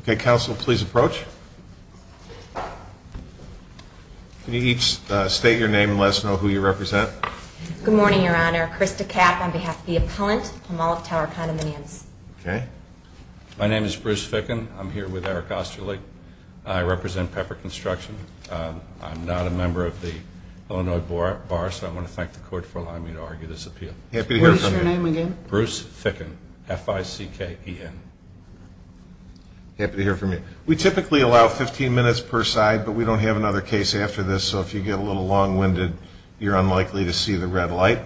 Okay, counsel, please approach. Can you each state your name and let us know who you represent? Good morning, Your Honor. Krista Kapp on behalf of the appellant, Palmolive Tower Condominiums. My name is Bruce Ficken. I'm here with Eric Osterly. I represent Pepper Construction. I'm not a member of the Illinois Bar, so I want to thank the court for allowing me to argue this appeal. What is your name again? Bruce Ficken, F-I-C-K-E-N. Happy to hear from you. We typically allow 15 minutes per side, but we don't have another case after this, so if you get a little long-winded, you're unlikely to see the red light.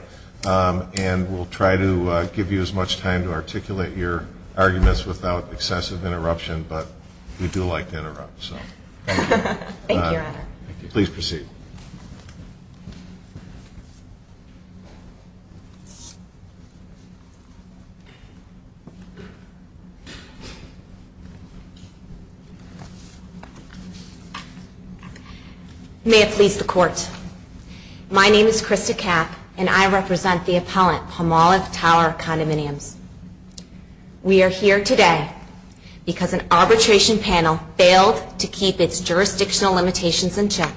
And we'll try to give you as much time to articulate your arguments without excessive interruption, but we do like to interrupt, so thank you. Thank you, Your Honor. Please proceed. May it please the Court. My name is Krista Kapp, and I represent the appellant, Palmolive Tower Condominiums. We are here today because an arbitration panel failed to keep its jurisdictional limitations in check,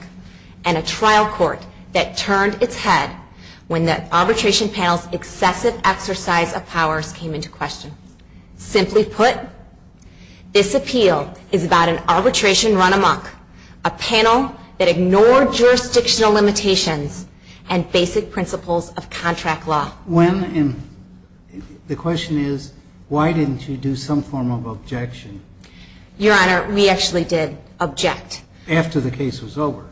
and a trial court that turned its head when the arbitration panel's excessive exercise of powers came into question. Simply put, this appeal is about an arbitration run amok, a panel that ignored jurisdictional limitations and basic principles of contract law. The question is, why didn't you do some form of objection? Your Honor, we actually did object. After the case was over?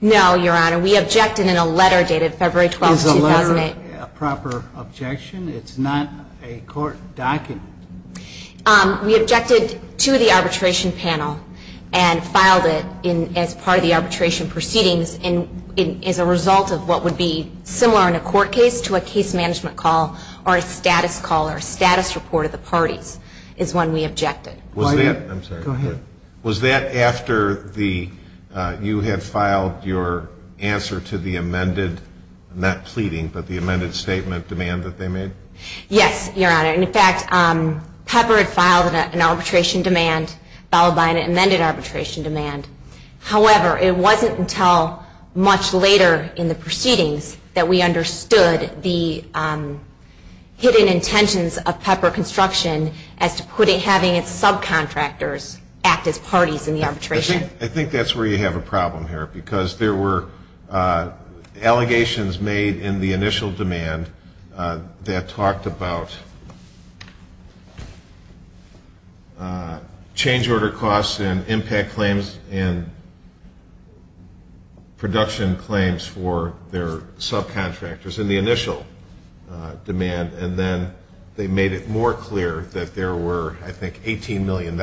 No, Your Honor, we objected in a letter dated February 12, 2008. Is a letter a proper objection? It's not a court document. We objected to the arbitration panel and filed it as part of the arbitration proceedings as a result of what would be similar in a court case to a case management call or a status call or a status report of the parties is when we objected. Go ahead. Was that after you had filed your answer to the amended, not pleading, but the amended statement demand that they made? Yes, Your Honor. In fact, Pepper had filed an arbitration demand followed by an amended arbitration demand. However, it wasn't until much later in the proceedings that we understood the hidden intentions of Pepper Construction as to having its subcontractors act as parties in the arbitration. I think that's where you have a problem here because there were allegations made in the initial demand that talked about change order costs and impact claims and production claims for their subcontractors in the initial demand, and then they made it more clear that there were, I think, $18 million,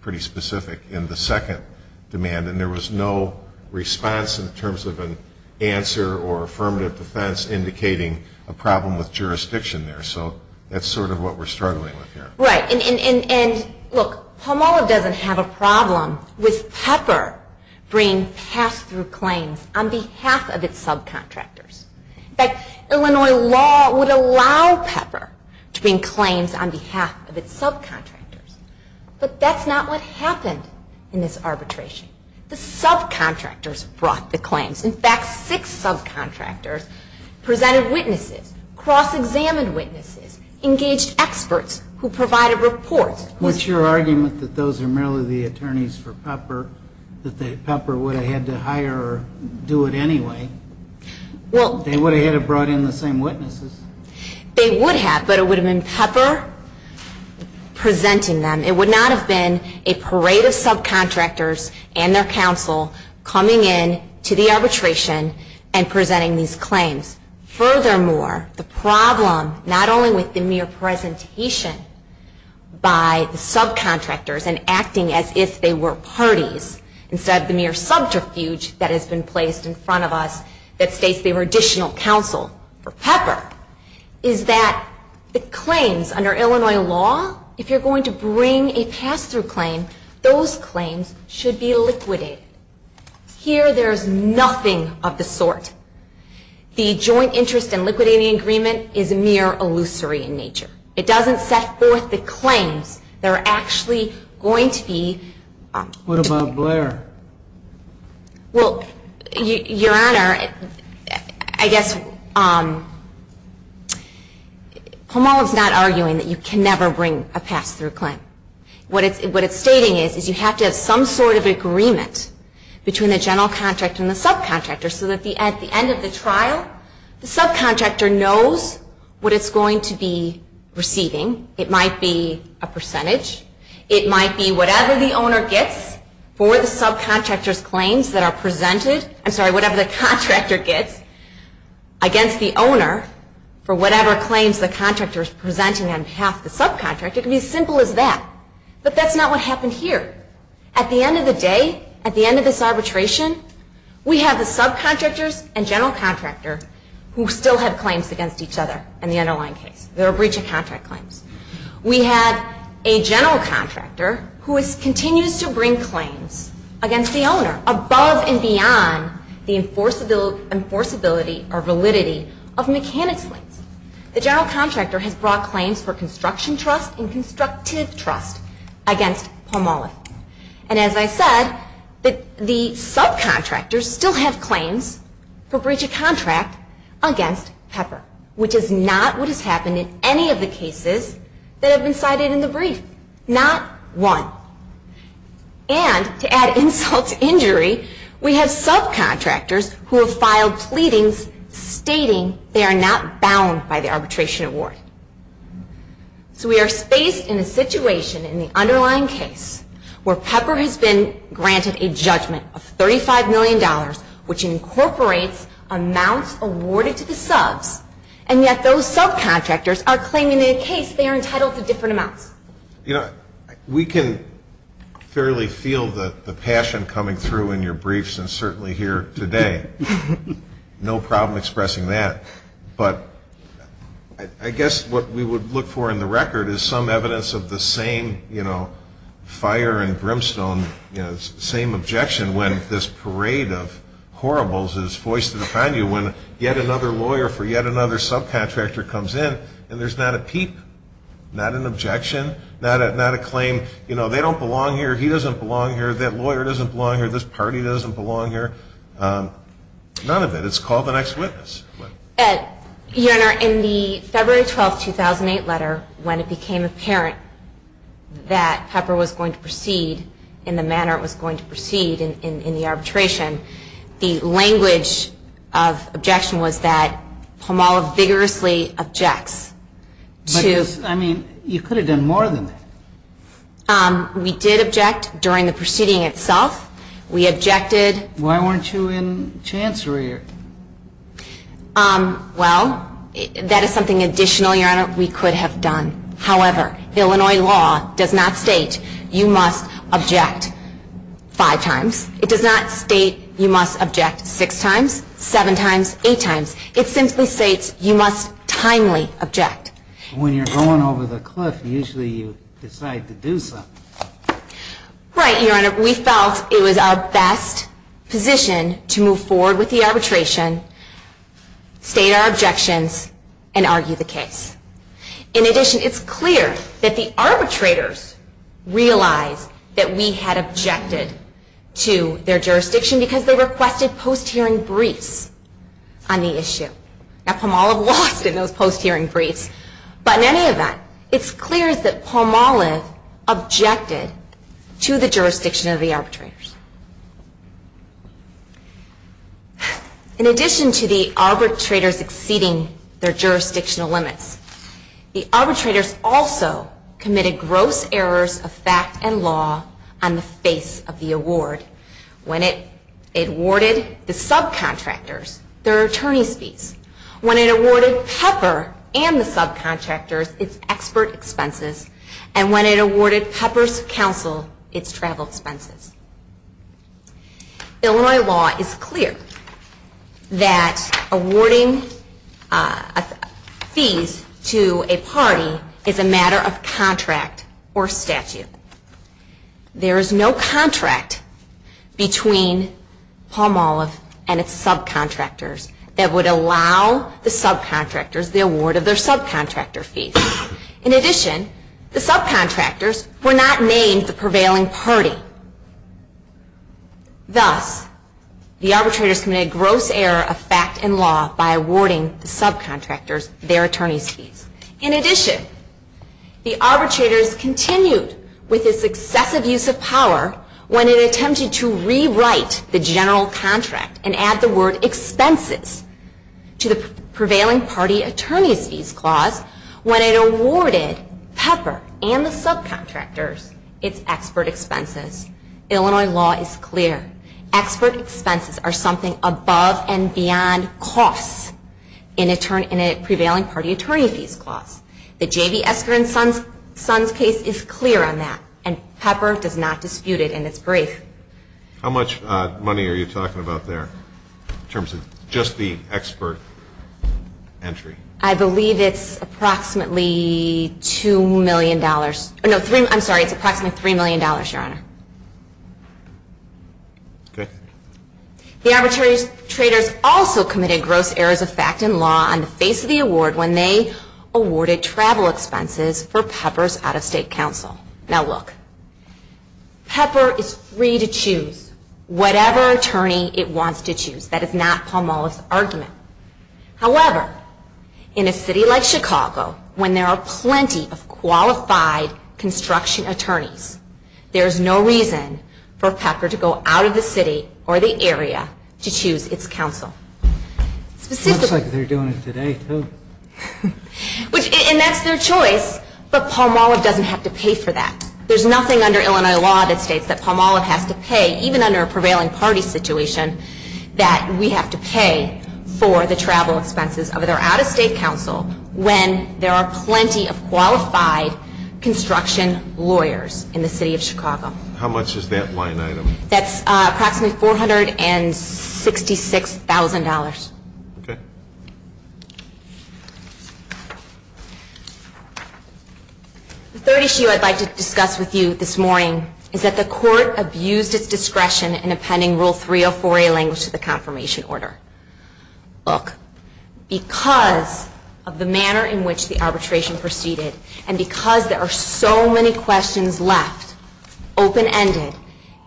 pretty specific, in the second demand, and there was no response in terms of an answer or affirmative defense indicating a problem with jurisdiction there, so that's sort of what we're struggling with here. Right, and look, Palmolive doesn't have a problem with Pepper bringing pass-through claims on behalf of its subcontractors. In fact, Illinois law would allow Pepper to bring claims on behalf of its subcontractors, but that's not what happened in this arbitration. The subcontractors brought the claims. In fact, six subcontractors presented witnesses, cross-examined witnesses, engaged experts who provided reports. What's your argument that those are merely the attorneys for Pepper, that Pepper would have had to hire or do it anyway? They would have had to have brought in the same witnesses. They would have, but it would have been Pepper presenting them. It would not have been a parade of subcontractors and their counsel coming in to the arbitration and presenting these claims. Furthermore, the problem, not only with the mere presentation by the subcontractors and acting as if they were parties, instead of the mere subterfuge that has been placed in front of us that states they were additional counsel for Pepper, is that the claims under Illinois law, if you're going to bring a pass-through claim, those claims should be liquidated. Here there is nothing of the sort. The joint interest and liquidating agreement is mere illusory in nature. It doesn't set forth the claims that are actually going to be... What about Blair? Well, Your Honor, I guess Homol is not arguing that you can never bring a pass-through claim. What it's stating is you have to have some sort of agreement between the general contractor and the subcontractor so that at the end of the trial, the subcontractor knows what it's going to be receiving. It might be a percentage. It might be whatever the contractor gets against the owner for whatever claims the contractor is presenting on behalf of the subcontractor. It could be as simple as that, but that's not what happened here. At the end of the day, at the end of this arbitration, we have the subcontractors and general contractor who still have claims against each other in the underlying case. They're a breach of contract claims. We have a general contractor who continues to bring claims against the owner above and beyond the enforceability or validity of mechanics claims. The general contractor has brought claims for construction trust and constructive trust against Homol. And as I said, the subcontractors still have claims for breach of contract against Pepper, which is not what has happened in any of the cases that have been cited in the brief. Not one. And to add insult to injury, we have subcontractors who have filed pleadings stating they are not bound by the arbitration award. So we are faced in a situation in the underlying case where Pepper has been granted a judgment of $35 million, which incorporates amounts awarded to the subs, and yet those subcontractors are claiming in a case they are entitled to different amounts. You know, we can fairly feel the passion coming through in your briefs and certainly here today. No problem expressing that. But I guess what we would look for in the record is some evidence of the same, you know, fire and brimstone, you know, same objection when this parade of horribles is foisted upon you when yet another lawyer for yet another subcontractor comes in and there's not a peep, not an objection, not a claim, you know, they don't belong here, he doesn't belong here, that lawyer doesn't belong here, this party doesn't belong here, none of it. I mean, it's called the next witness. Your Honor, in the February 12, 2008 letter, when it became apparent that Pepper was going to proceed in the manner it was going to proceed in the arbitration, the language of objection was that Pomala vigorously objects. Because, I mean, you could have done more than that. We did object during the proceeding itself. Why weren't you in chancery? Well, that is something additional, Your Honor, we could have done. However, Illinois law does not state you must object five times. It does not state you must object six times, seven times, eight times. It simply states you must timely object. When you're going over the cliff, usually you decide to do something. Right, Your Honor, we felt it was our best position to move forward with the arbitration, state our objections, and argue the case. In addition, it's clear that the arbitrators realized that we had objected to their jurisdiction because they requested post-hearing briefs on the issue. Now, Pomala lost in those post-hearing briefs, but in any event, it's clear that Pomala objected to the jurisdiction of the arbitrators. In addition to the arbitrators exceeding their jurisdictional limits, the arbitrators also committed gross errors of fact and law on the face of the award when it awarded the subcontractors their attorney's fees, when it awarded Pepper and the subcontractors its expert expenses, and when it awarded Pepper's counsel its travel expenses. Illinois law is clear that awarding fees to a party is a matter of contract or statute. There is no contract between Pomala and its subcontractors that would allow the subcontractors the award of their subcontractor fees. In addition, the subcontractors were not named the prevailing party. Thus, the arbitrators committed gross error of fact and law by awarding the subcontractors their attorney's fees. In addition, the arbitrators continued with this excessive use of power when it attempted to rewrite the general contract and add the word expenses to the prevailing party attorney's fees clause when it awarded Pepper and the subcontractors its expert expenses. Illinois law is clear. Expert expenses are something above and beyond costs in a prevailing party attorney's fees clause. The J.V. Esker and Sons case is clear on that, and Pepper does not dispute it in its brief. How much money are you talking about there in terms of just the expert entry? I believe it's approximately $2 million. I'm sorry, it's approximately $3 million, Your Honor. The arbitrators also committed gross errors of fact and law on the face of the award when they awarded travel expenses for Pepper's out-of-state counsel. Now look, Pepper is free to choose whatever attorney it wants to choose. That is not Pomala's argument. However, in a city like Chicago, when there are plenty of qualified construction attorneys, there is no reason for Pepper to go out of the city or the area to choose its counsel. It looks like they're doing it today, too. And that's their choice, but Pomala doesn't have to pay for that. There's nothing under Illinois law that states that Pomala has to pay, even under a prevailing party situation, that we have to pay for the travel expenses of their out-of-state counsel when there are plenty of qualified construction lawyers in the city of Chicago. How much is that line item? That's approximately $466,000. The third issue I'd like to discuss with you this morning is that the Court abused its discretion in appending Rule 304A language to the confirmation order. Look, because of the manner in which the arbitration proceeded and because there are so many questions left open-ended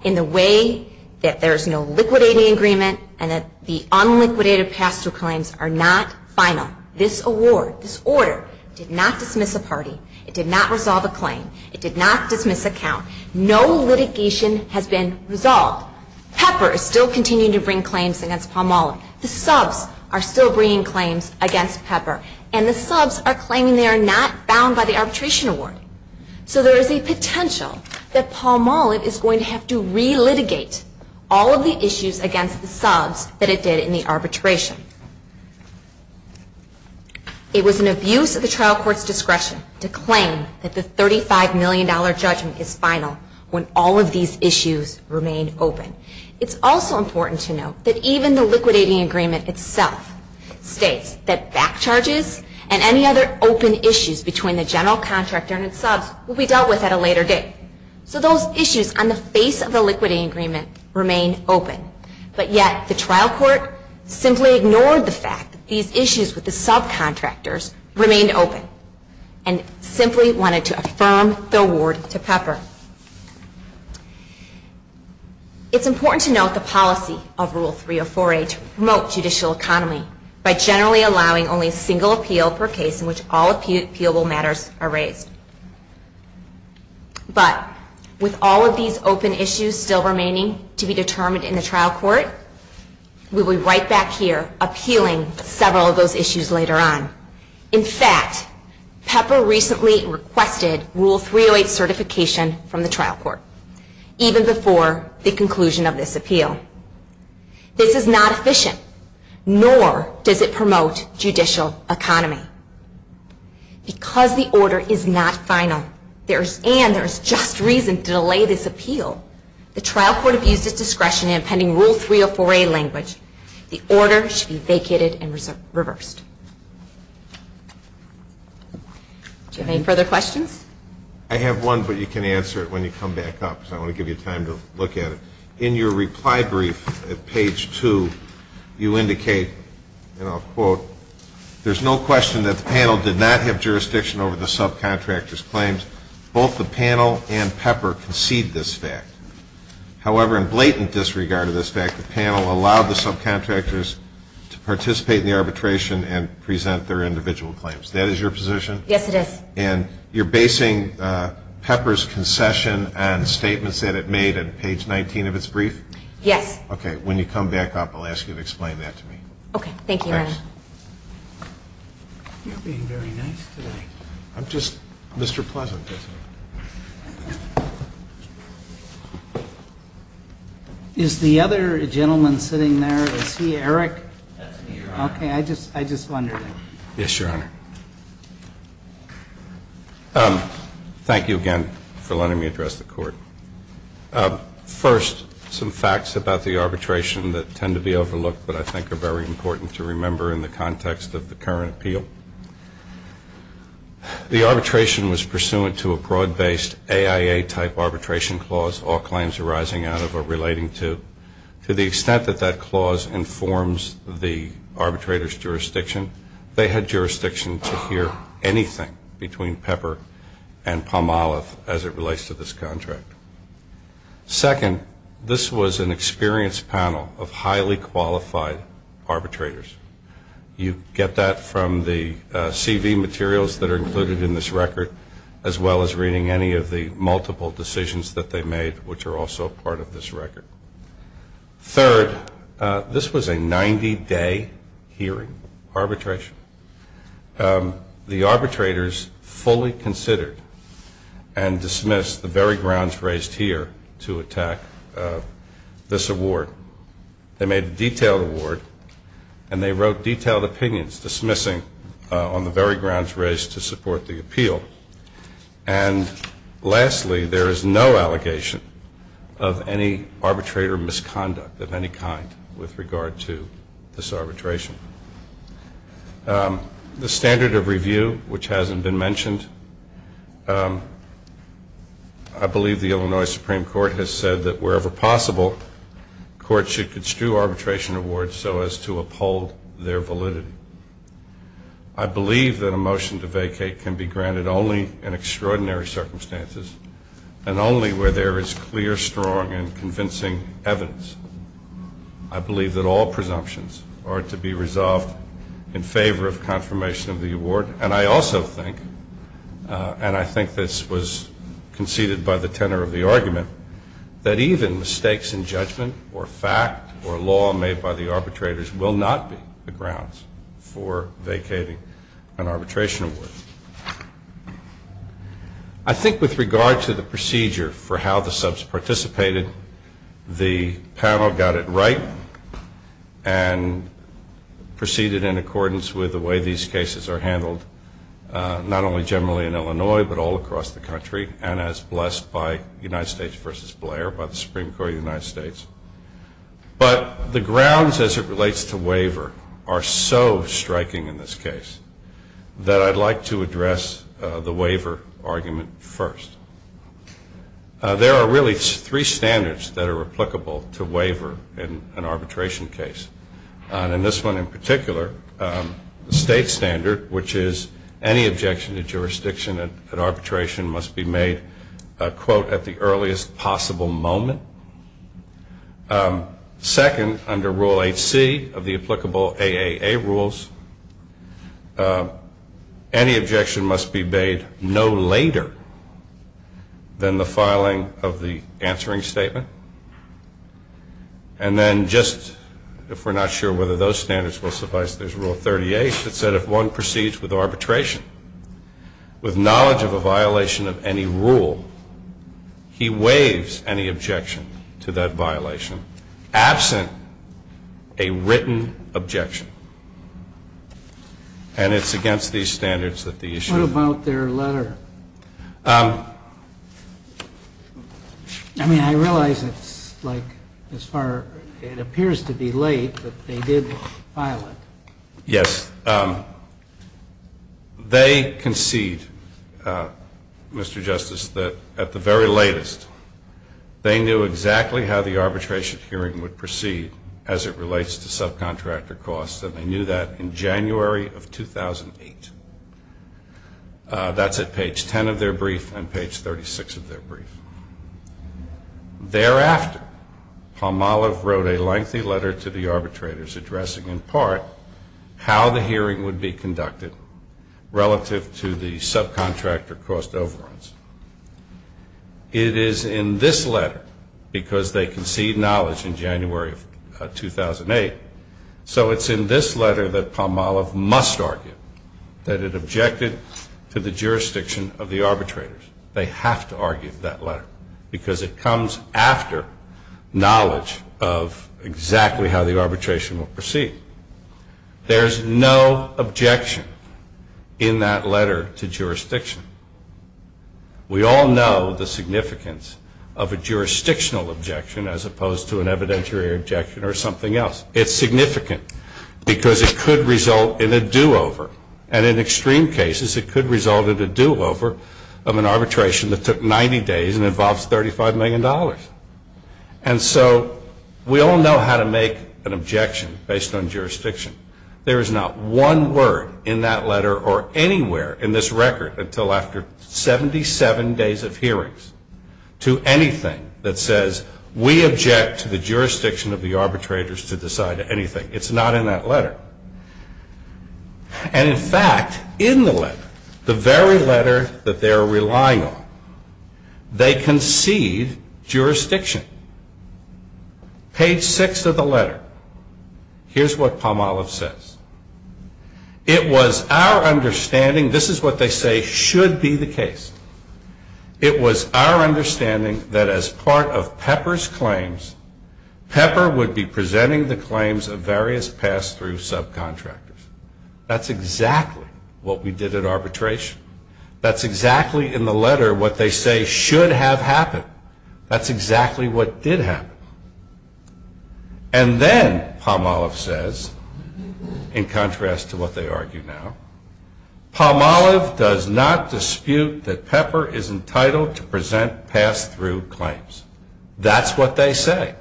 in the way that there is no liquidating agreement and that the unliquidated pastoral claims are not final, this order did not dismiss a party, it did not resolve a claim, it did not dismiss a count. No litigation has been resolved. Pepper is still continuing to bring claims against Pomala. The subs are still bringing claims against Pepper, and the subs are claiming they are not bound by the arbitration award. So there is a potential that Pomala is going to have to relitigate all of the issues against the subs that it did in the arbitration. It was an abuse of the trial court's discretion to claim that the $35 million judgment is final when all of these issues remain open. It's also important to note that even the liquidating agreement itself states that back charges and any other open issues between the general contractor and its subs will be dealt with at a later date. So those issues on the face of the liquidating agreement remain open, but yet the trial court simply ignored the fact that these issues with the subcontractors remained open and simply wanted to affirm the award to Pepper. It's important to note the policy of Rule 304A to promote judicial economy by generally allowing only a single appeal per case in which all appealable matters are raised. But with all of these open issues still remaining to be determined in the trial court, we will be right back here appealing several of those issues later on. In fact, Pepper recently requested Rule 308 certification from the trial court, even before the conclusion of this appeal. This is not efficient, nor does it promote judicial economy. Because the order is not final and there is just reason to delay this appeal, the trial court abused its discretion in appending Rule 304A language. The order should be vacated and reversed. Do you have any further questions? I have one, but you can answer it when you come back up, because I want to give you time to look at it. In your reply brief at page 2, you indicate, and I'll quote, there's no question that the panel did not have jurisdiction over the subcontractor's claims. Both the panel and Pepper concede this fact. However, in blatant disregard of this fact, the panel allowed the subcontractors to participate in the arbitration and present their individual claims. That is your position? Yes, it is. And you're basing Pepper's concession on statements that it made at page 19 of its brief? Yes. Okay. When you come back up, I'll ask you to explain that to me. Okay. Thank you, Your Honor. You're being very nice today. I'm just Mr. Pleasant. Is the other gentleman sitting there, is he Eric? That's me, Your Honor. Okay. I just wondered. Yes, Your Honor. Thank you again for letting me address the Court. First, some facts about the arbitration that tend to be overlooked, but I think are very important to remember in the context of the current appeal. The arbitration was pursuant to a broad-based AIA-type arbitration clause, all claims arising out of or relating to. To the extent that that clause informs the arbitrator's jurisdiction, they had jurisdiction to hear anything between Pepper and Palmolive as it relates to this contract. Second, this was an experienced panel of highly qualified arbitrators. You get that from the CV materials that are included in this record, as well as reading any of the multiple decisions that they made, which are also part of this record. Third, this was a 90-day hearing arbitration. The arbitrators fully considered and dismissed the very grounds raised here to attack this award. They made a detailed award, and they wrote detailed opinions dismissing on the very grounds raised to support the appeal. And lastly, there is no allegation of any arbitrator misconduct of any kind with regard to this arbitration. The standard of review, which hasn't been mentioned, I believe the Illinois Supreme Court has said that wherever possible, courts should construe arbitration awards so as to uphold their validity. I believe that a motion to vacate can be granted only in extraordinary circumstances and only where there is clear, strong, and convincing evidence. I believe that all presumptions are to be resolved in favor of confirmation of the award, and I also think, and I think this was conceded by the tenor of the argument, that even mistakes in judgment or fact or law made by the arbitrators will not be the grounds for vacating an arbitration award. I think with regard to the procedure for how the subs participated, the panel got it right and proceeded in accordance with the way these cases are handled, not only generally in Illinois, but all across the country, and as blessed by United States v. Blair, by the Supreme Court of the United States. But the grounds as it relates to waiver are so striking in this case that I'd like to address the waiver argument first. There are really three standards that are applicable to waiver in an arbitration case. And this one in particular, the state standard, which is any objection to jurisdiction at arbitration must be made, quote, at the earliest possible moment. Second, under Rule 8C of the applicable AAA rules, any objection must be made no later than the filing of the answering statement. And then just if we're not sure whether those standards will suffice, there's Rule 38 that said if one proceeds with arbitration with knowledge of a violation of any rule, he waives any objection to that violation absent a written objection. And it's against these standards that the issue. What about their letter? I mean, I realize it's like as far, it appears to be late, but they did file it. Yes. They concede, Mr. Justice, that at the very latest, they knew exactly how the arbitration hearing would proceed as it relates to subcontractor costs, and they knew that in January of 2008. That's at page 10 of their brief and page 36 of their brief. Thereafter, Palmolive wrote a lengthy letter to the arbitrators addressing in part how the hearing would be conducted relative to the subcontractor cost overruns. It is in this letter, because they concede knowledge in January of 2008, so it's in this letter that Palmolive must argue that it objected to the jurisdiction of the arbitrators. They have to argue that letter because it comes after knowledge of exactly how the arbitration will proceed. We all know the significance of a jurisdictional objection as opposed to an evidentiary objection or something else. It's significant because it could result in a do-over, and in extreme cases, it could result in a do-over of an arbitration that took 90 days and involves $35 million. And so we all know how to make an objection based on jurisdiction. There is not one word in that letter or anywhere in this record until after 77 days of hearings to anything that says we object to the jurisdiction of the arbitrators to decide anything. It's not in that letter. And in fact, in the letter, the very letter that they are relying on, they concede jurisdiction. Page 6 of the letter, here's what Palmolive says. It was our understanding, this is what they say should be the case, it was our understanding that as part of Pepper's claims, Pepper would be presenting the claims of various pass-through subcontractors. That's exactly what we did at arbitration. That's exactly in the letter what they say should have happened. That's exactly what did happen. And then Palmolive says, in contrast to what they argue now, Palmolive does not dispute that Pepper is entitled to present pass-through claims. That's what they say.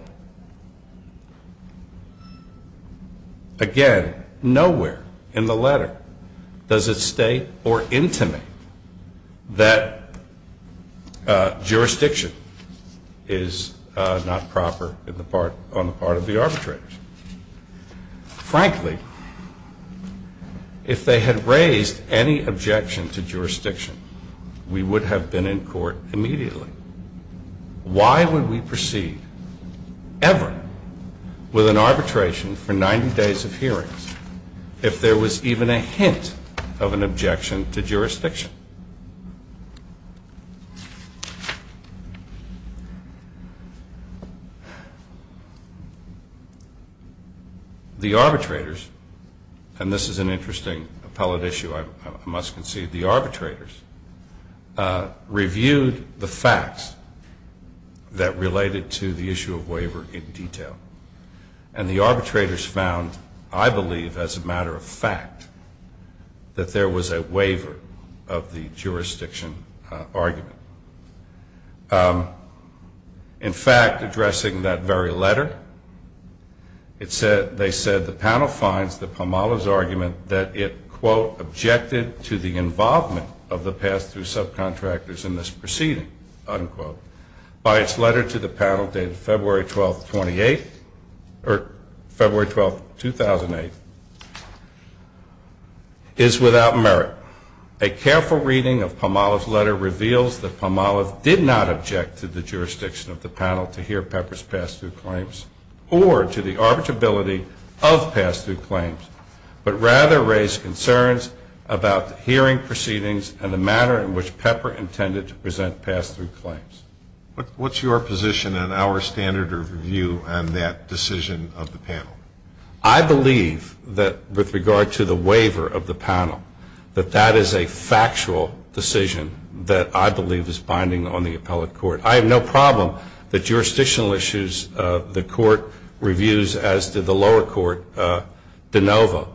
Again, nowhere in the letter does it state or intimate that jurisdiction is not proper on the part of the arbitrators. Frankly, if they had raised any objection to jurisdiction, we would have been in court immediately. Why would we proceed ever with an arbitration for 90 days of hearings if there was even a hint of an objection to jurisdiction? The arbitrators, and this is an interesting appellate issue I must concede, the arbitrators reviewed the facts that related to the issue of waiver in detail. And the arbitrators found, I believe as a matter of fact, that there was a waiver of the jurisdiction argument. In fact, addressing that very letter, they said the panel finds that Palmolive's argument that it, quote, objected to the involvement of the pass-through subcontractors in this proceeding, unquote, by its letter to the panel dated February 12, 2008 is without merit. A careful reading of Palmolive's letter reveals that Palmolive did not object to the jurisdiction of the panel to hear Pepper's pass-through claims or to the arbitrability of pass-through claims, but rather raised concerns about the hearing proceedings and the manner in which Pepper intended to present pass-through claims. I believe that with regard to the waiver of the panel, that that is a factual decision that I believe is binding on the appellate court. I have no problem that jurisdictional issues the court reviews as did the lower court de novo,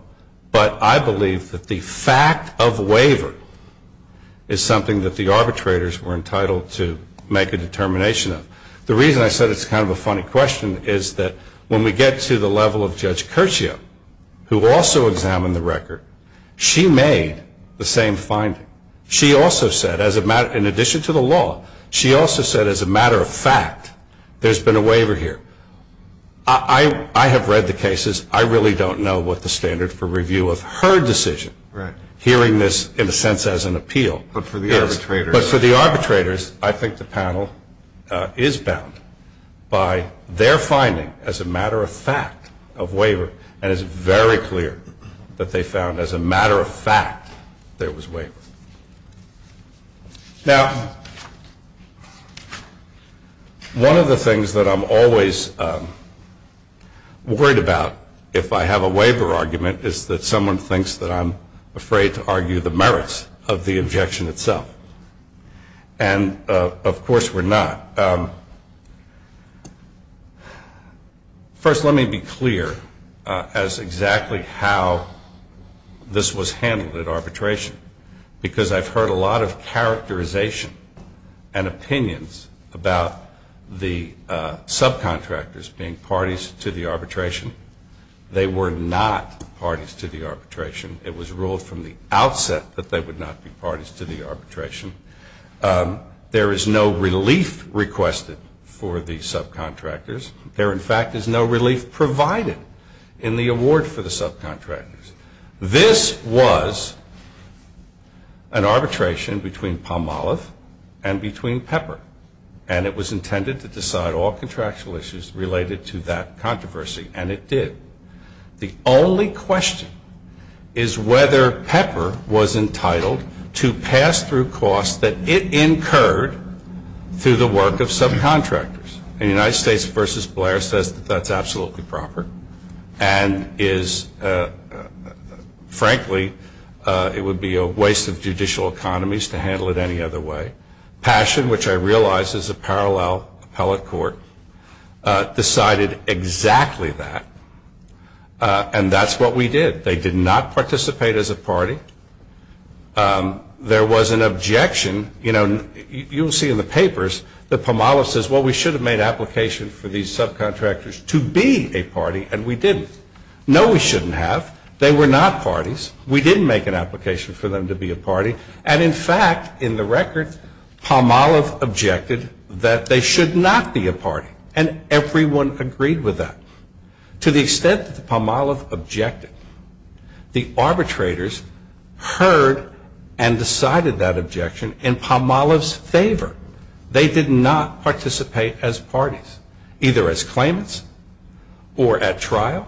but I believe that the fact of waiver is something that the arbitrators were entitled to make a determination of. The reason I said it's kind of a funny question is that when we get to the level of Judge Curcio, who also examined the record, she made the same finding. She also said, in addition to the law, she also said as a matter of fact there's been a waiver here. I have read the cases. I really don't know what the standard for review of her decision, hearing this in a sense as an appeal is. But for the arbitrators, I think the panel is bound by their finding as a matter of fact of waiver, and it's very clear that they found as a matter of fact there was waiver. Now, one of the things that I'm always worried about if I have a waiver argument is that someone thinks that I'm afraid to argue the merits of the objection itself. And of course we're not. First, let me be clear as exactly how this was handled at arbitration, because I've heard a lot of characterization and opinions about the subcontractors being parties to the arbitration. They were not parties to the arbitration. It was ruled from the outset that they would not be requested for the subcontractors. There in fact is no relief provided in the award for the subcontractors. This was an arbitration between Palmolive and between Pepper, and it was intended to decide all contractual issues related to that controversy, and it did. The only question is whether Pepper was entitled to pass through costs that it incurred through the work of subcontractors. The United States v. Blair says that that's absolutely proper, and frankly it would be a waste of judicial economies to handle it any other way. Passion, which I realize is a parallel appellate court, decided exactly that, and that's what we did. They did not participate as a party. There was an objection. You'll see in the papers that Palmolive says, well, we should have made application for these subcontractors to be a party, and we didn't. No, we shouldn't have. They were not parties. We didn't make an application for them to be a party, and in fact, in the record, Palmolive objected that they should not be a party, and everyone agreed with that. To the extent that the Palmolive objected, the arbitrators heard and decided that objection in Palmolive's favor. They did not participate as parties, either as claimants or at trial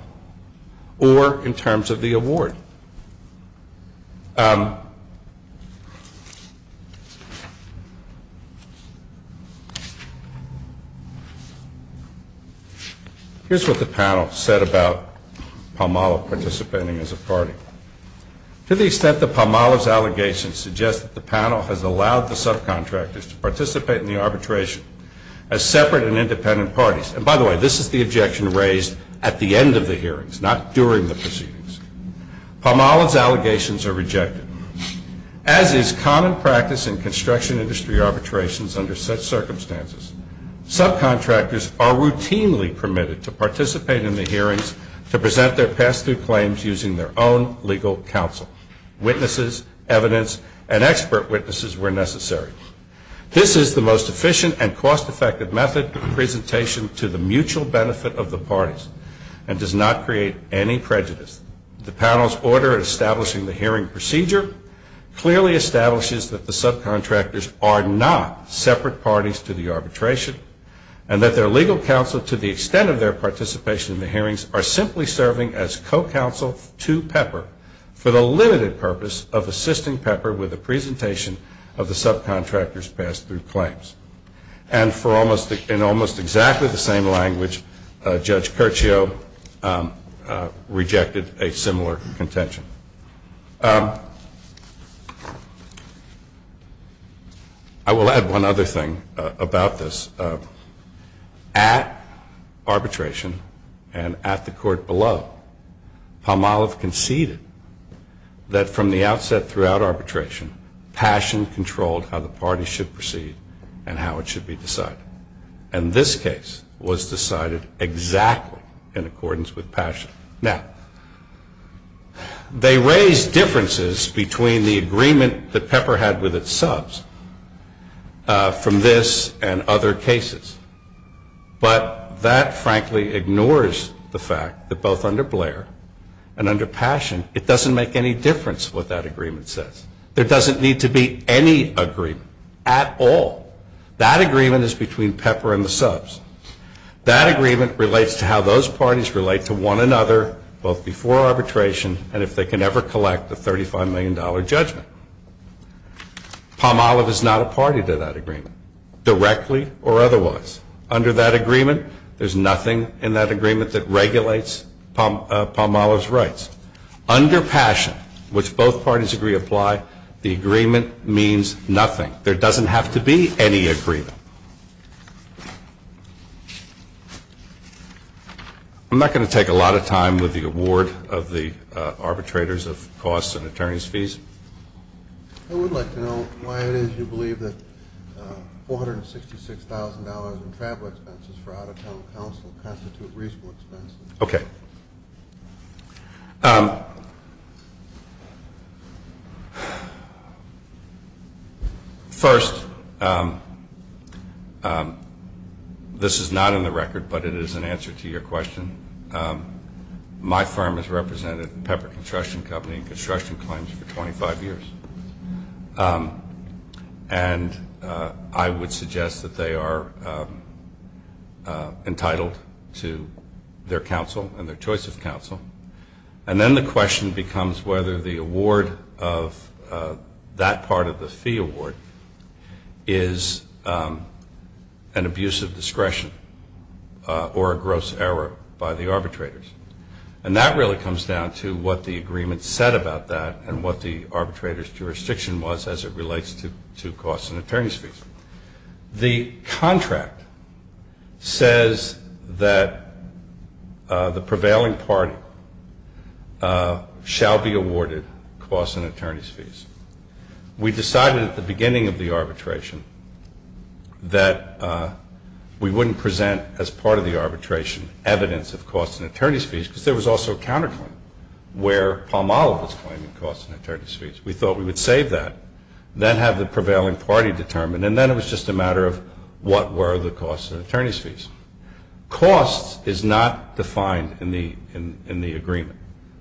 or in terms of the award. Here's what the panel said about Palmolive participating as a party. To the extent that Palmolive's allegations suggest that the panel has allowed the subcontractors to participate in the arbitration as separate and independent parties, and by the way, this is the objection raised at the end of the hearings, not during the proceedings. Palmolive's allegations are rejected. As is common practice in construction industry arbitrations under such circumstances, subcontractors are routinely permitted to participate in the hearings to present their pass-through claims using their own legal counsel, witnesses, evidence, and expert witnesses where necessary. This is the most efficient and cost-effective method of presentation to the mutual benefit of the parties and does not create any prejudice. The panel's order establishing the hearing procedure clearly establishes that the subcontractors are not separate parties to the arbitration and that their legal counsel, to the extent of their participation in the hearings, are simply serving as co-counsel to Pepper for the limited purpose of assisting Pepper with the presentation of the subcontractor's pass-through claims. And in almost exactly the same language, Judge Curcio rejected a similar contention. I will add one other thing about this. At arbitration and at the court below, Palmolive conceded that from the outset throughout arbitration, passion controlled how the party should proceed and how it should be decided. And this case was decided exactly in accordance with passion. Now, they raised differences between the agreement that Pepper had with its subs from this and other cases, but that frankly ignores the fact that both under Blair and under passion, it doesn't make any difference what that agreement says. There doesn't need to be any agreement at all. That agreement is between Pepper and the subs. That agreement relates to how those parties relate to one another, both before arbitration and if they can ever collect the $35 million judgment. Palmolive is not a party to that agreement, directly or otherwise. Under that agreement, there's nothing in that agreement that regulates Palmolive's rights. Under passion, which both parties agree apply, the agreement means nothing. There doesn't have to be any agreement. I'm not going to take a lot of time with the award of the arbitrators of costs and attorney's fees. I would like to know why it is you believe that $466,000 in travel expenses for out-of-town counsel constitute reasonable expenses. Okay. First, this is not in the record, but it is an answer to your question. My firm has represented Pepper Construction Company in construction claims for 25 years. And I would suggest that they are entitled to their counsel and their choice of counsel. And then the question becomes whether the award of that part of the fee award is an abuse of discretion or a gross error by the arbitrators. And that really comes down to what the agreement said about that and what the arbitrator's jurisdiction was as it relates to costs and attorney's fees. The contract says that the prevailing party shall be awarded costs and attorney's fees. We decided at the beginning of the arbitration that we wouldn't present as part of the arbitration evidence of costs and attorney's fees, because there was also a counterclaim where Palmolive was claiming costs and attorney's fees. We thought we would save that, then have the prevailing party determine, and then it was just a matter of what were the costs and attorney's fees. Costs is not defined in the agreement.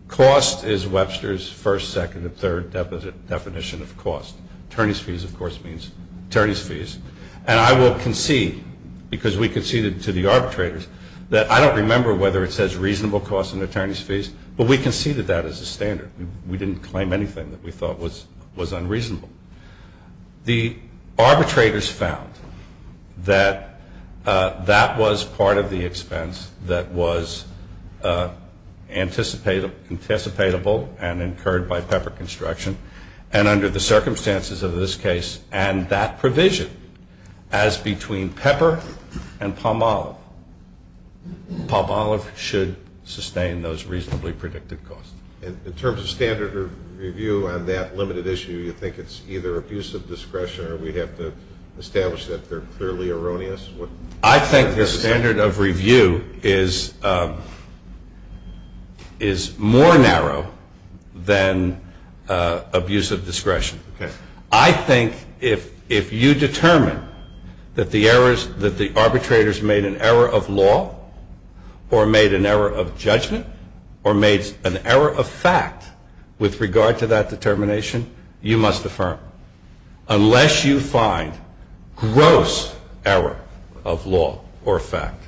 Cost is Webster's first, second, and third definition of cost. Attorney's fees, of course, means attorney's fees. And I will concede, because we conceded to the arbitrators, that I don't remember whether it says reasonable costs and attorney's fees, but we conceded that as a standard. We didn't claim anything that we thought was unreasonable. The arbitrators found that that was part of the expense that was anticipatable and incurred by Pepper Construction, and under the circumstances of this case and that provision, as between Pepper and Palmolive, Palmolive should sustain those reasonably predicted costs. In terms of standard of review on that limited issue, you think it's either abuse of discretion or we have to establish that they're clearly erroneous? I think the standard of review is more narrow than abuse of discretion. I think if you determine that the arbitrators made an error of law or made an error of judgment or made an error of fact with regard to that determination, you must affirm. Unless you find gross error of law or fact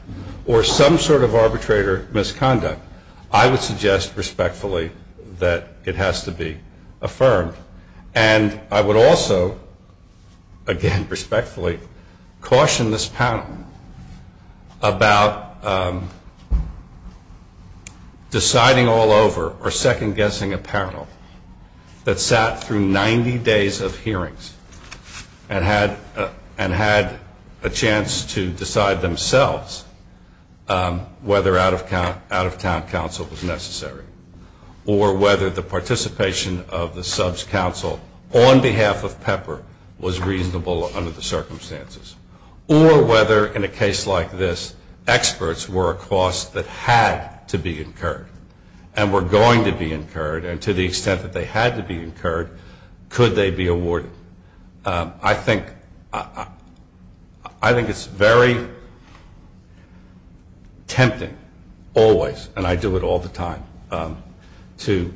or some sort of arbitrator misconduct, I would suggest respectfully that it has to be affirmed. And I would also, again respectfully, caution this panel about deciding all over or second-guessing a panel that sat through 90 days of hearings and had a chance to decide themselves whether out-of-town counsel was necessary or whether the participation of the sub's counsel on behalf of Pepper was reasonable under the circumstances, or whether in a case like this experts were a cost that had to be incurred and were going to be incurred, and to the extent that they had to be incurred, could they be awarded. I think it's very tempting always, and I do it all the time, to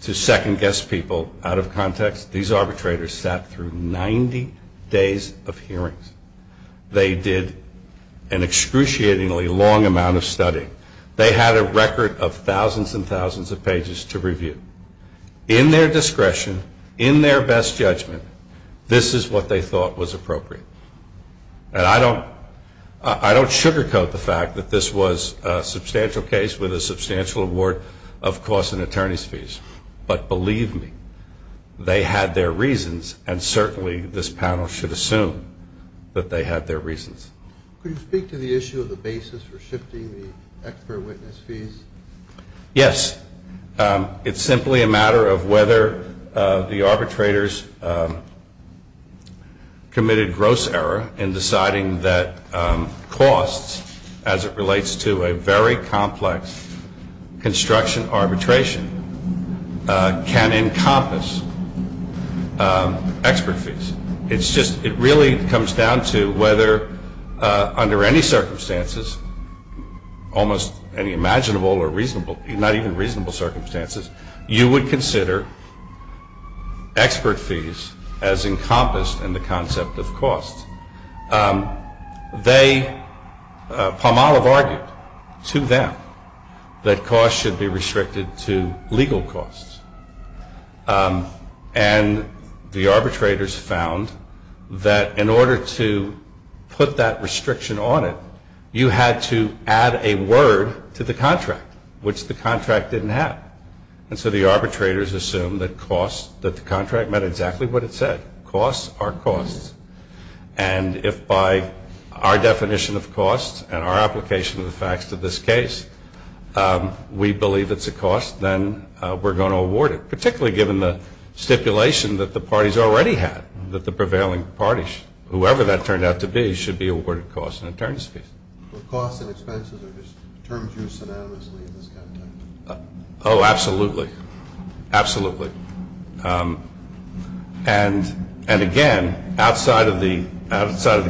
second-guess people out of context. These arbitrators sat through 90 days of hearings. They did an excruciatingly long amount of studying. They had a record of thousands and thousands of pages to review. In their discretion, in their best judgment, this is what they thought was appropriate. And I don't sugarcoat the fact that this was a substantial case with a substantial award of costs and attorney's fees. But believe me, they had their reasons, and certainly this panel should assume that they had their reasons. Could you speak to the issue of the basis for shifting the expert witness fees? Yes. It's simply a matter of whether the arbitrators committed gross error in deciding that costs as it relates to a very complex construction arbitration can encompass expert fees. It really comes down to whether under any circumstances, almost any imaginable or not even reasonable circumstances, you would consider expert fees as encompassed in the concept of costs. Palmolive argued to them that costs should be restricted to legal costs. And the arbitrators found that in order to put that restriction on it, you had to add a word to the contract, which the contract didn't have. And so the arbitrators assumed that the contract meant exactly what it said, costs are costs. And if by our definition of costs and our application of the facts to this case, we believe it's a cost, then we're going to award it, particularly given the stipulation that the parties already had, that the prevailing parties, whoever that turned out to be, and again, outside of the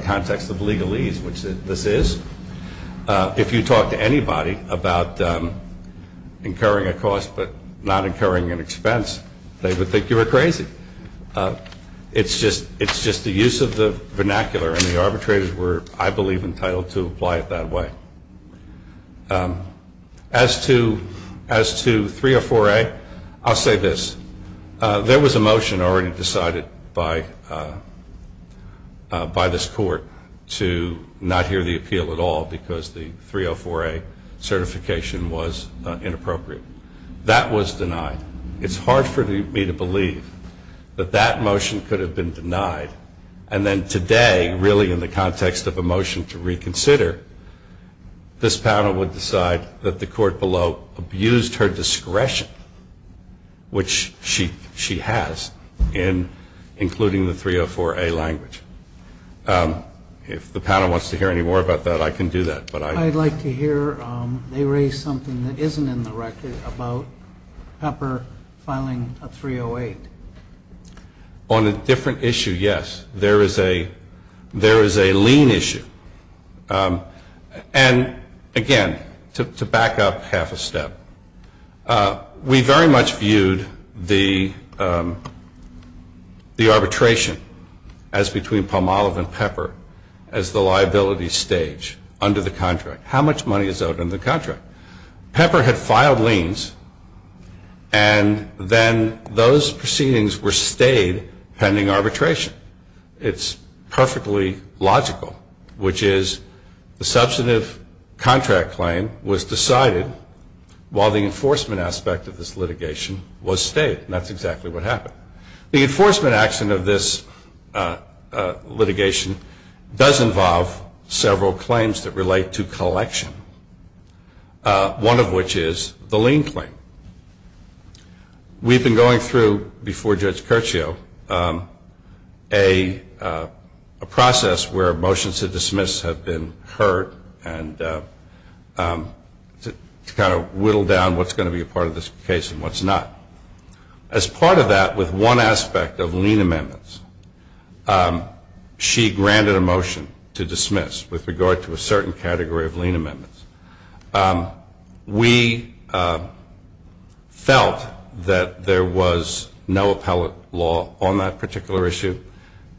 context of legalese, which this is, if you talk to anybody about incurring a cost but not incurring an expense, they would think you were crazy. It's just the use of the vernacular, and the arbitrators were, I believe, entitled to apply it that way. As to 304A, I'll say this. There was a motion already decided by this court to not hear the appeal at all, because the 304A certification was inappropriate. That was denied. It's hard for me to believe that that motion could have been denied, and then today, really in the context of a motion to reconsider, this panel would decide that the court below abused her discretion, which she has, including the 304A language. If the panel wants to hear any more about that, I can do that. I'd like to hear they raise something that isn't in the record about Pepper filing a 308. On a different issue, yes, there is a lien issue. And, again, to back up half a step, we very much viewed the arbitration as between Palmolive and Pepper as the liability stage under the contract, how much money is owed under the contract. Pepper had filed liens, and then those proceedings were stayed pending arbitration. It's perfectly logical, which is the substantive contract claim was decided while the enforcement aspect of this litigation was stayed, and that's exactly what happened. The enforcement action of this litigation does involve several claims that relate to collection. One of which is the lien claim. We've been going through, before Judge Curcio, a process where motions to dismiss have been heard, and to kind of whittle down what's going to be a part of this case and what's not. As part of that, with one aspect of lien amendments, she granted a motion to dismiss with regard to a certain category of lien amendments. We felt that there was no appellate law on that particular issue,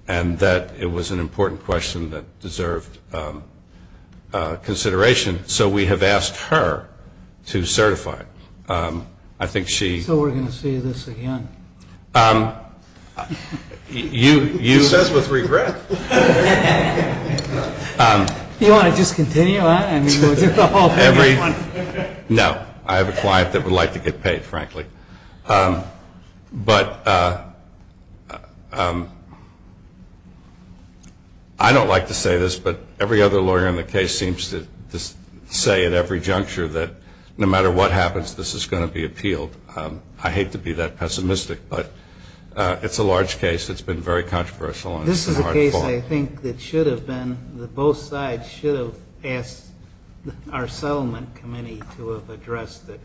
and that it was an important question that deserved consideration, so we have asked her to certify it. So we're going to see this again? She says with regret. No, I have a client that would like to get paid, frankly. I don't like to say this, but every other lawyer in the case seems to say at every juncture that no matter what happens, this is going to be appealed. I hate to be that pessimistic, but it's a large case, it's been very controversial. This is a case I think that should have been, that both sides should have asked our settlement committee to have addressed it.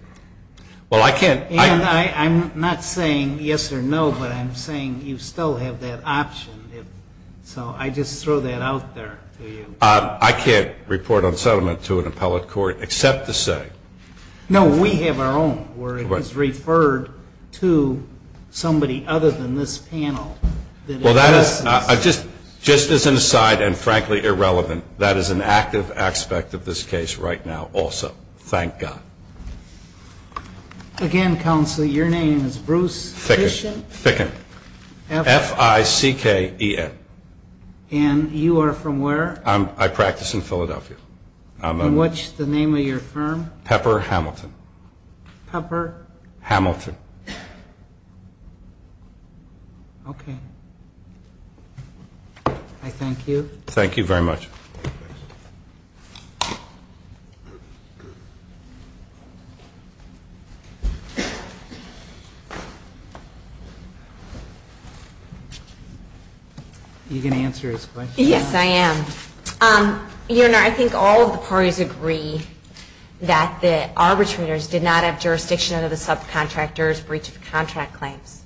I'm not saying yes or no, but I'm saying you still have that option. So I just throw that out there to you. I can't report on settlement to an appellate court except to say. No, we have our own, where it is referred to somebody other than this panel. Just as an aside, and frankly irrelevant, that is an active aspect of this case right now also. Thank God. Again, Counselor, your name is Bruce Fickin? F-I-C-K-E-N. And you are from where? I practice in Philadelphia. And what's the name of your firm? Pepper Hamilton. Okay. I thank you. Thank you very much. Are you going to answer his question? Yes, I am. I think all of the parties agree that the arbitrators did not have jurisdiction under the subcontractor's breach of contract claims.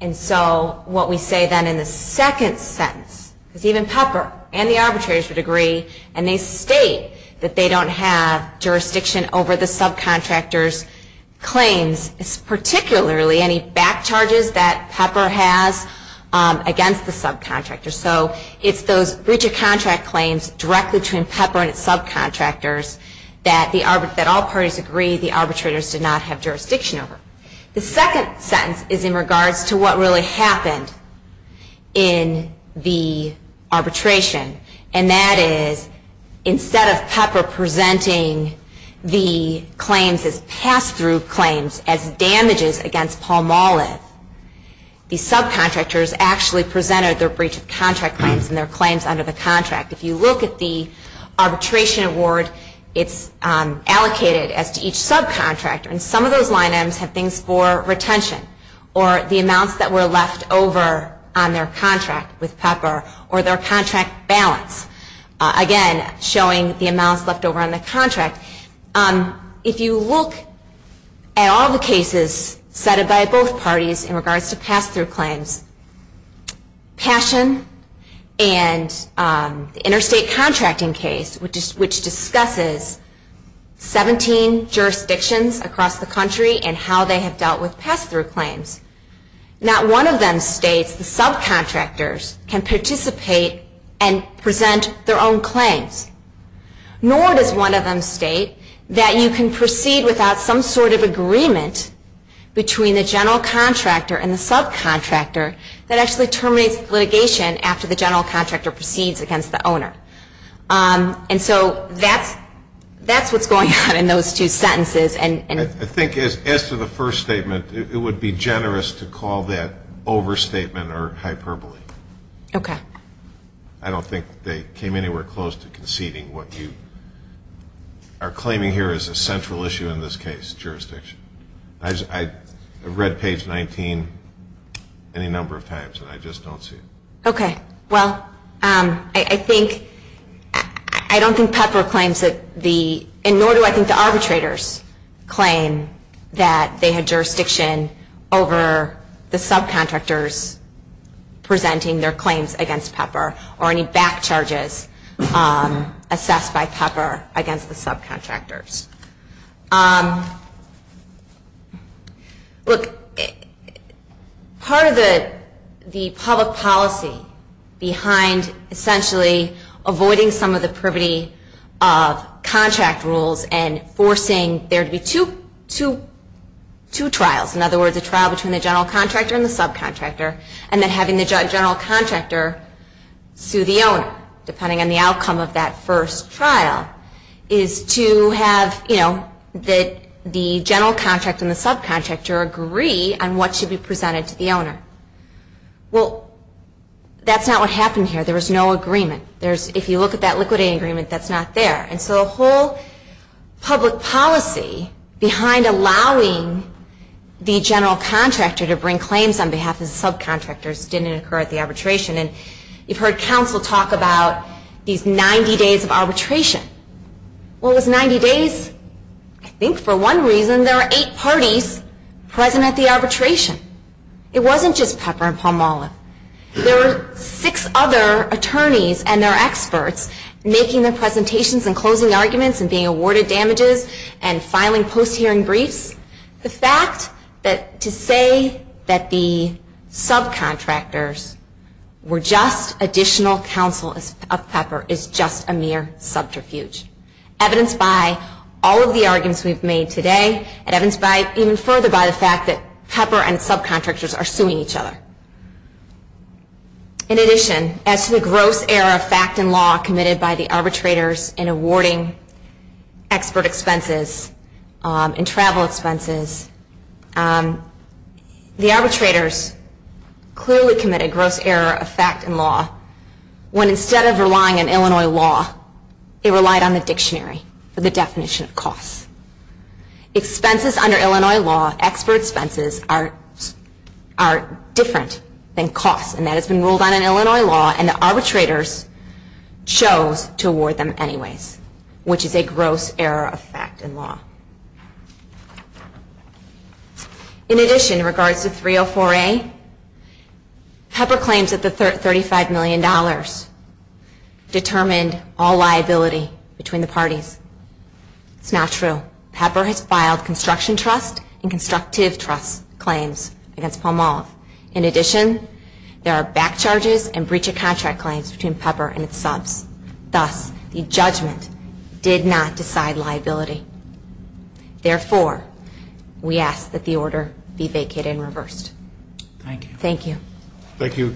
And so what we say then in the second sentence, because even Pepper and the arbitrators would agree, and they state that they don't have jurisdiction over the subcontractor's claims, particularly any back charges that Pepper has against the subcontractor. So it's those breach of contract claims directly between Pepper and its subcontractors that all parties agree the arbitrators did not have jurisdiction over. The second sentence is in regards to what really happened in the arbitration, and that is instead of Pepper presenting the claims as pass-through claims as damages against Paul Molliff, the subcontractors actually presented their breach of contract claims and their claims under the contract. If you look at the arbitration award, it's allocated as to each subcontractor. And some of those line items have things for retention, or the amounts that were left over on their contract with Pepper, or their contract balance. Again, showing the amounts left over on the contract. If you look at all the cases cited by both parties in regards to pass-through claims, Passion and the interstate contracting case, which discusses 17 jurisdictions across the country and how they have dealt with pass-through claims, not one of them states the subcontractors can participate and present their own claims. Nor does one of them state that you can proceed without some sort of agreement between the general contractor and the subcontractor that actually terminates litigation after the general contractor proceeds against the owner. And so that's what's going on in those two sentences. I think as to the first statement, it would be generous to call that overstatement or hyperbole. I don't think they came anywhere close to conceding what you are claiming here as a central issue in this case, jurisdiction. I've read page 19 any number of times, and I just don't see it. Okay. Well, I think, I don't think Pepper claims that the, and nor do I think the arbitrators claim that they had jurisdiction over the subcontractors presenting their claims against Pepper or any back charges assessed by Pepper against the subcontractors. Look, part of the public policy behind essentially avoiding some of the privity of contract rules and forcing there to be two trials, in other words, a trial between the general contractor and the subcontractor, and then having the general contractor sue the owner, depending on the outcome of that first trial, is to have, you know, that the general contractor and the subcontractor agree on what should be presented to the owner. Well, that's not what happened here. There was no agreement. If you look at that liquidity agreement, that's not there. And so the whole public policy behind allowing the general contractor to bring claims on behalf of the subcontractors didn't occur at the arbitration. And you've heard counsel talk about these 90 days of arbitration. Well, it was 90 days. I think for one reason there were eight parties present at the arbitration. It wasn't just Pepper and Palmolive. There were six other attorneys and their experts making their presentations and closing arguments and being awarded damages and filing post-hearing briefs. The fact that to say that the subcontractors were just additional counsel of Pepper is just a mere subterfuge, evidenced by all of the arguments we've made today and evidenced even further by the fact that Pepper and subcontractors are suing each other. In addition, as to the gross error of fact and law committed by the arbitrators in awarding expert expenses and travel expenses, the arbitrators clearly commit a gross error of fact and law when instead of relying on Illinois law, they relied on the dictionary for the definition of costs. Expenses under Illinois law, expert expenses, are different than costs and that has been ruled on in Illinois law and the arbitrators chose to award them anyways, which is a gross error of fact and law. In addition, in regards to 304A, Pepper claims that the $35 million determined all liability between the parties. It's not true. Pepper has filed construction trust and constructive trust claims against Palmolive. In addition, there are back charges and breach of contract claims between Pepper and its subs. Thus, the judgment did not decide liability. Therefore, we ask that the order be vacated and reversed. Thank you.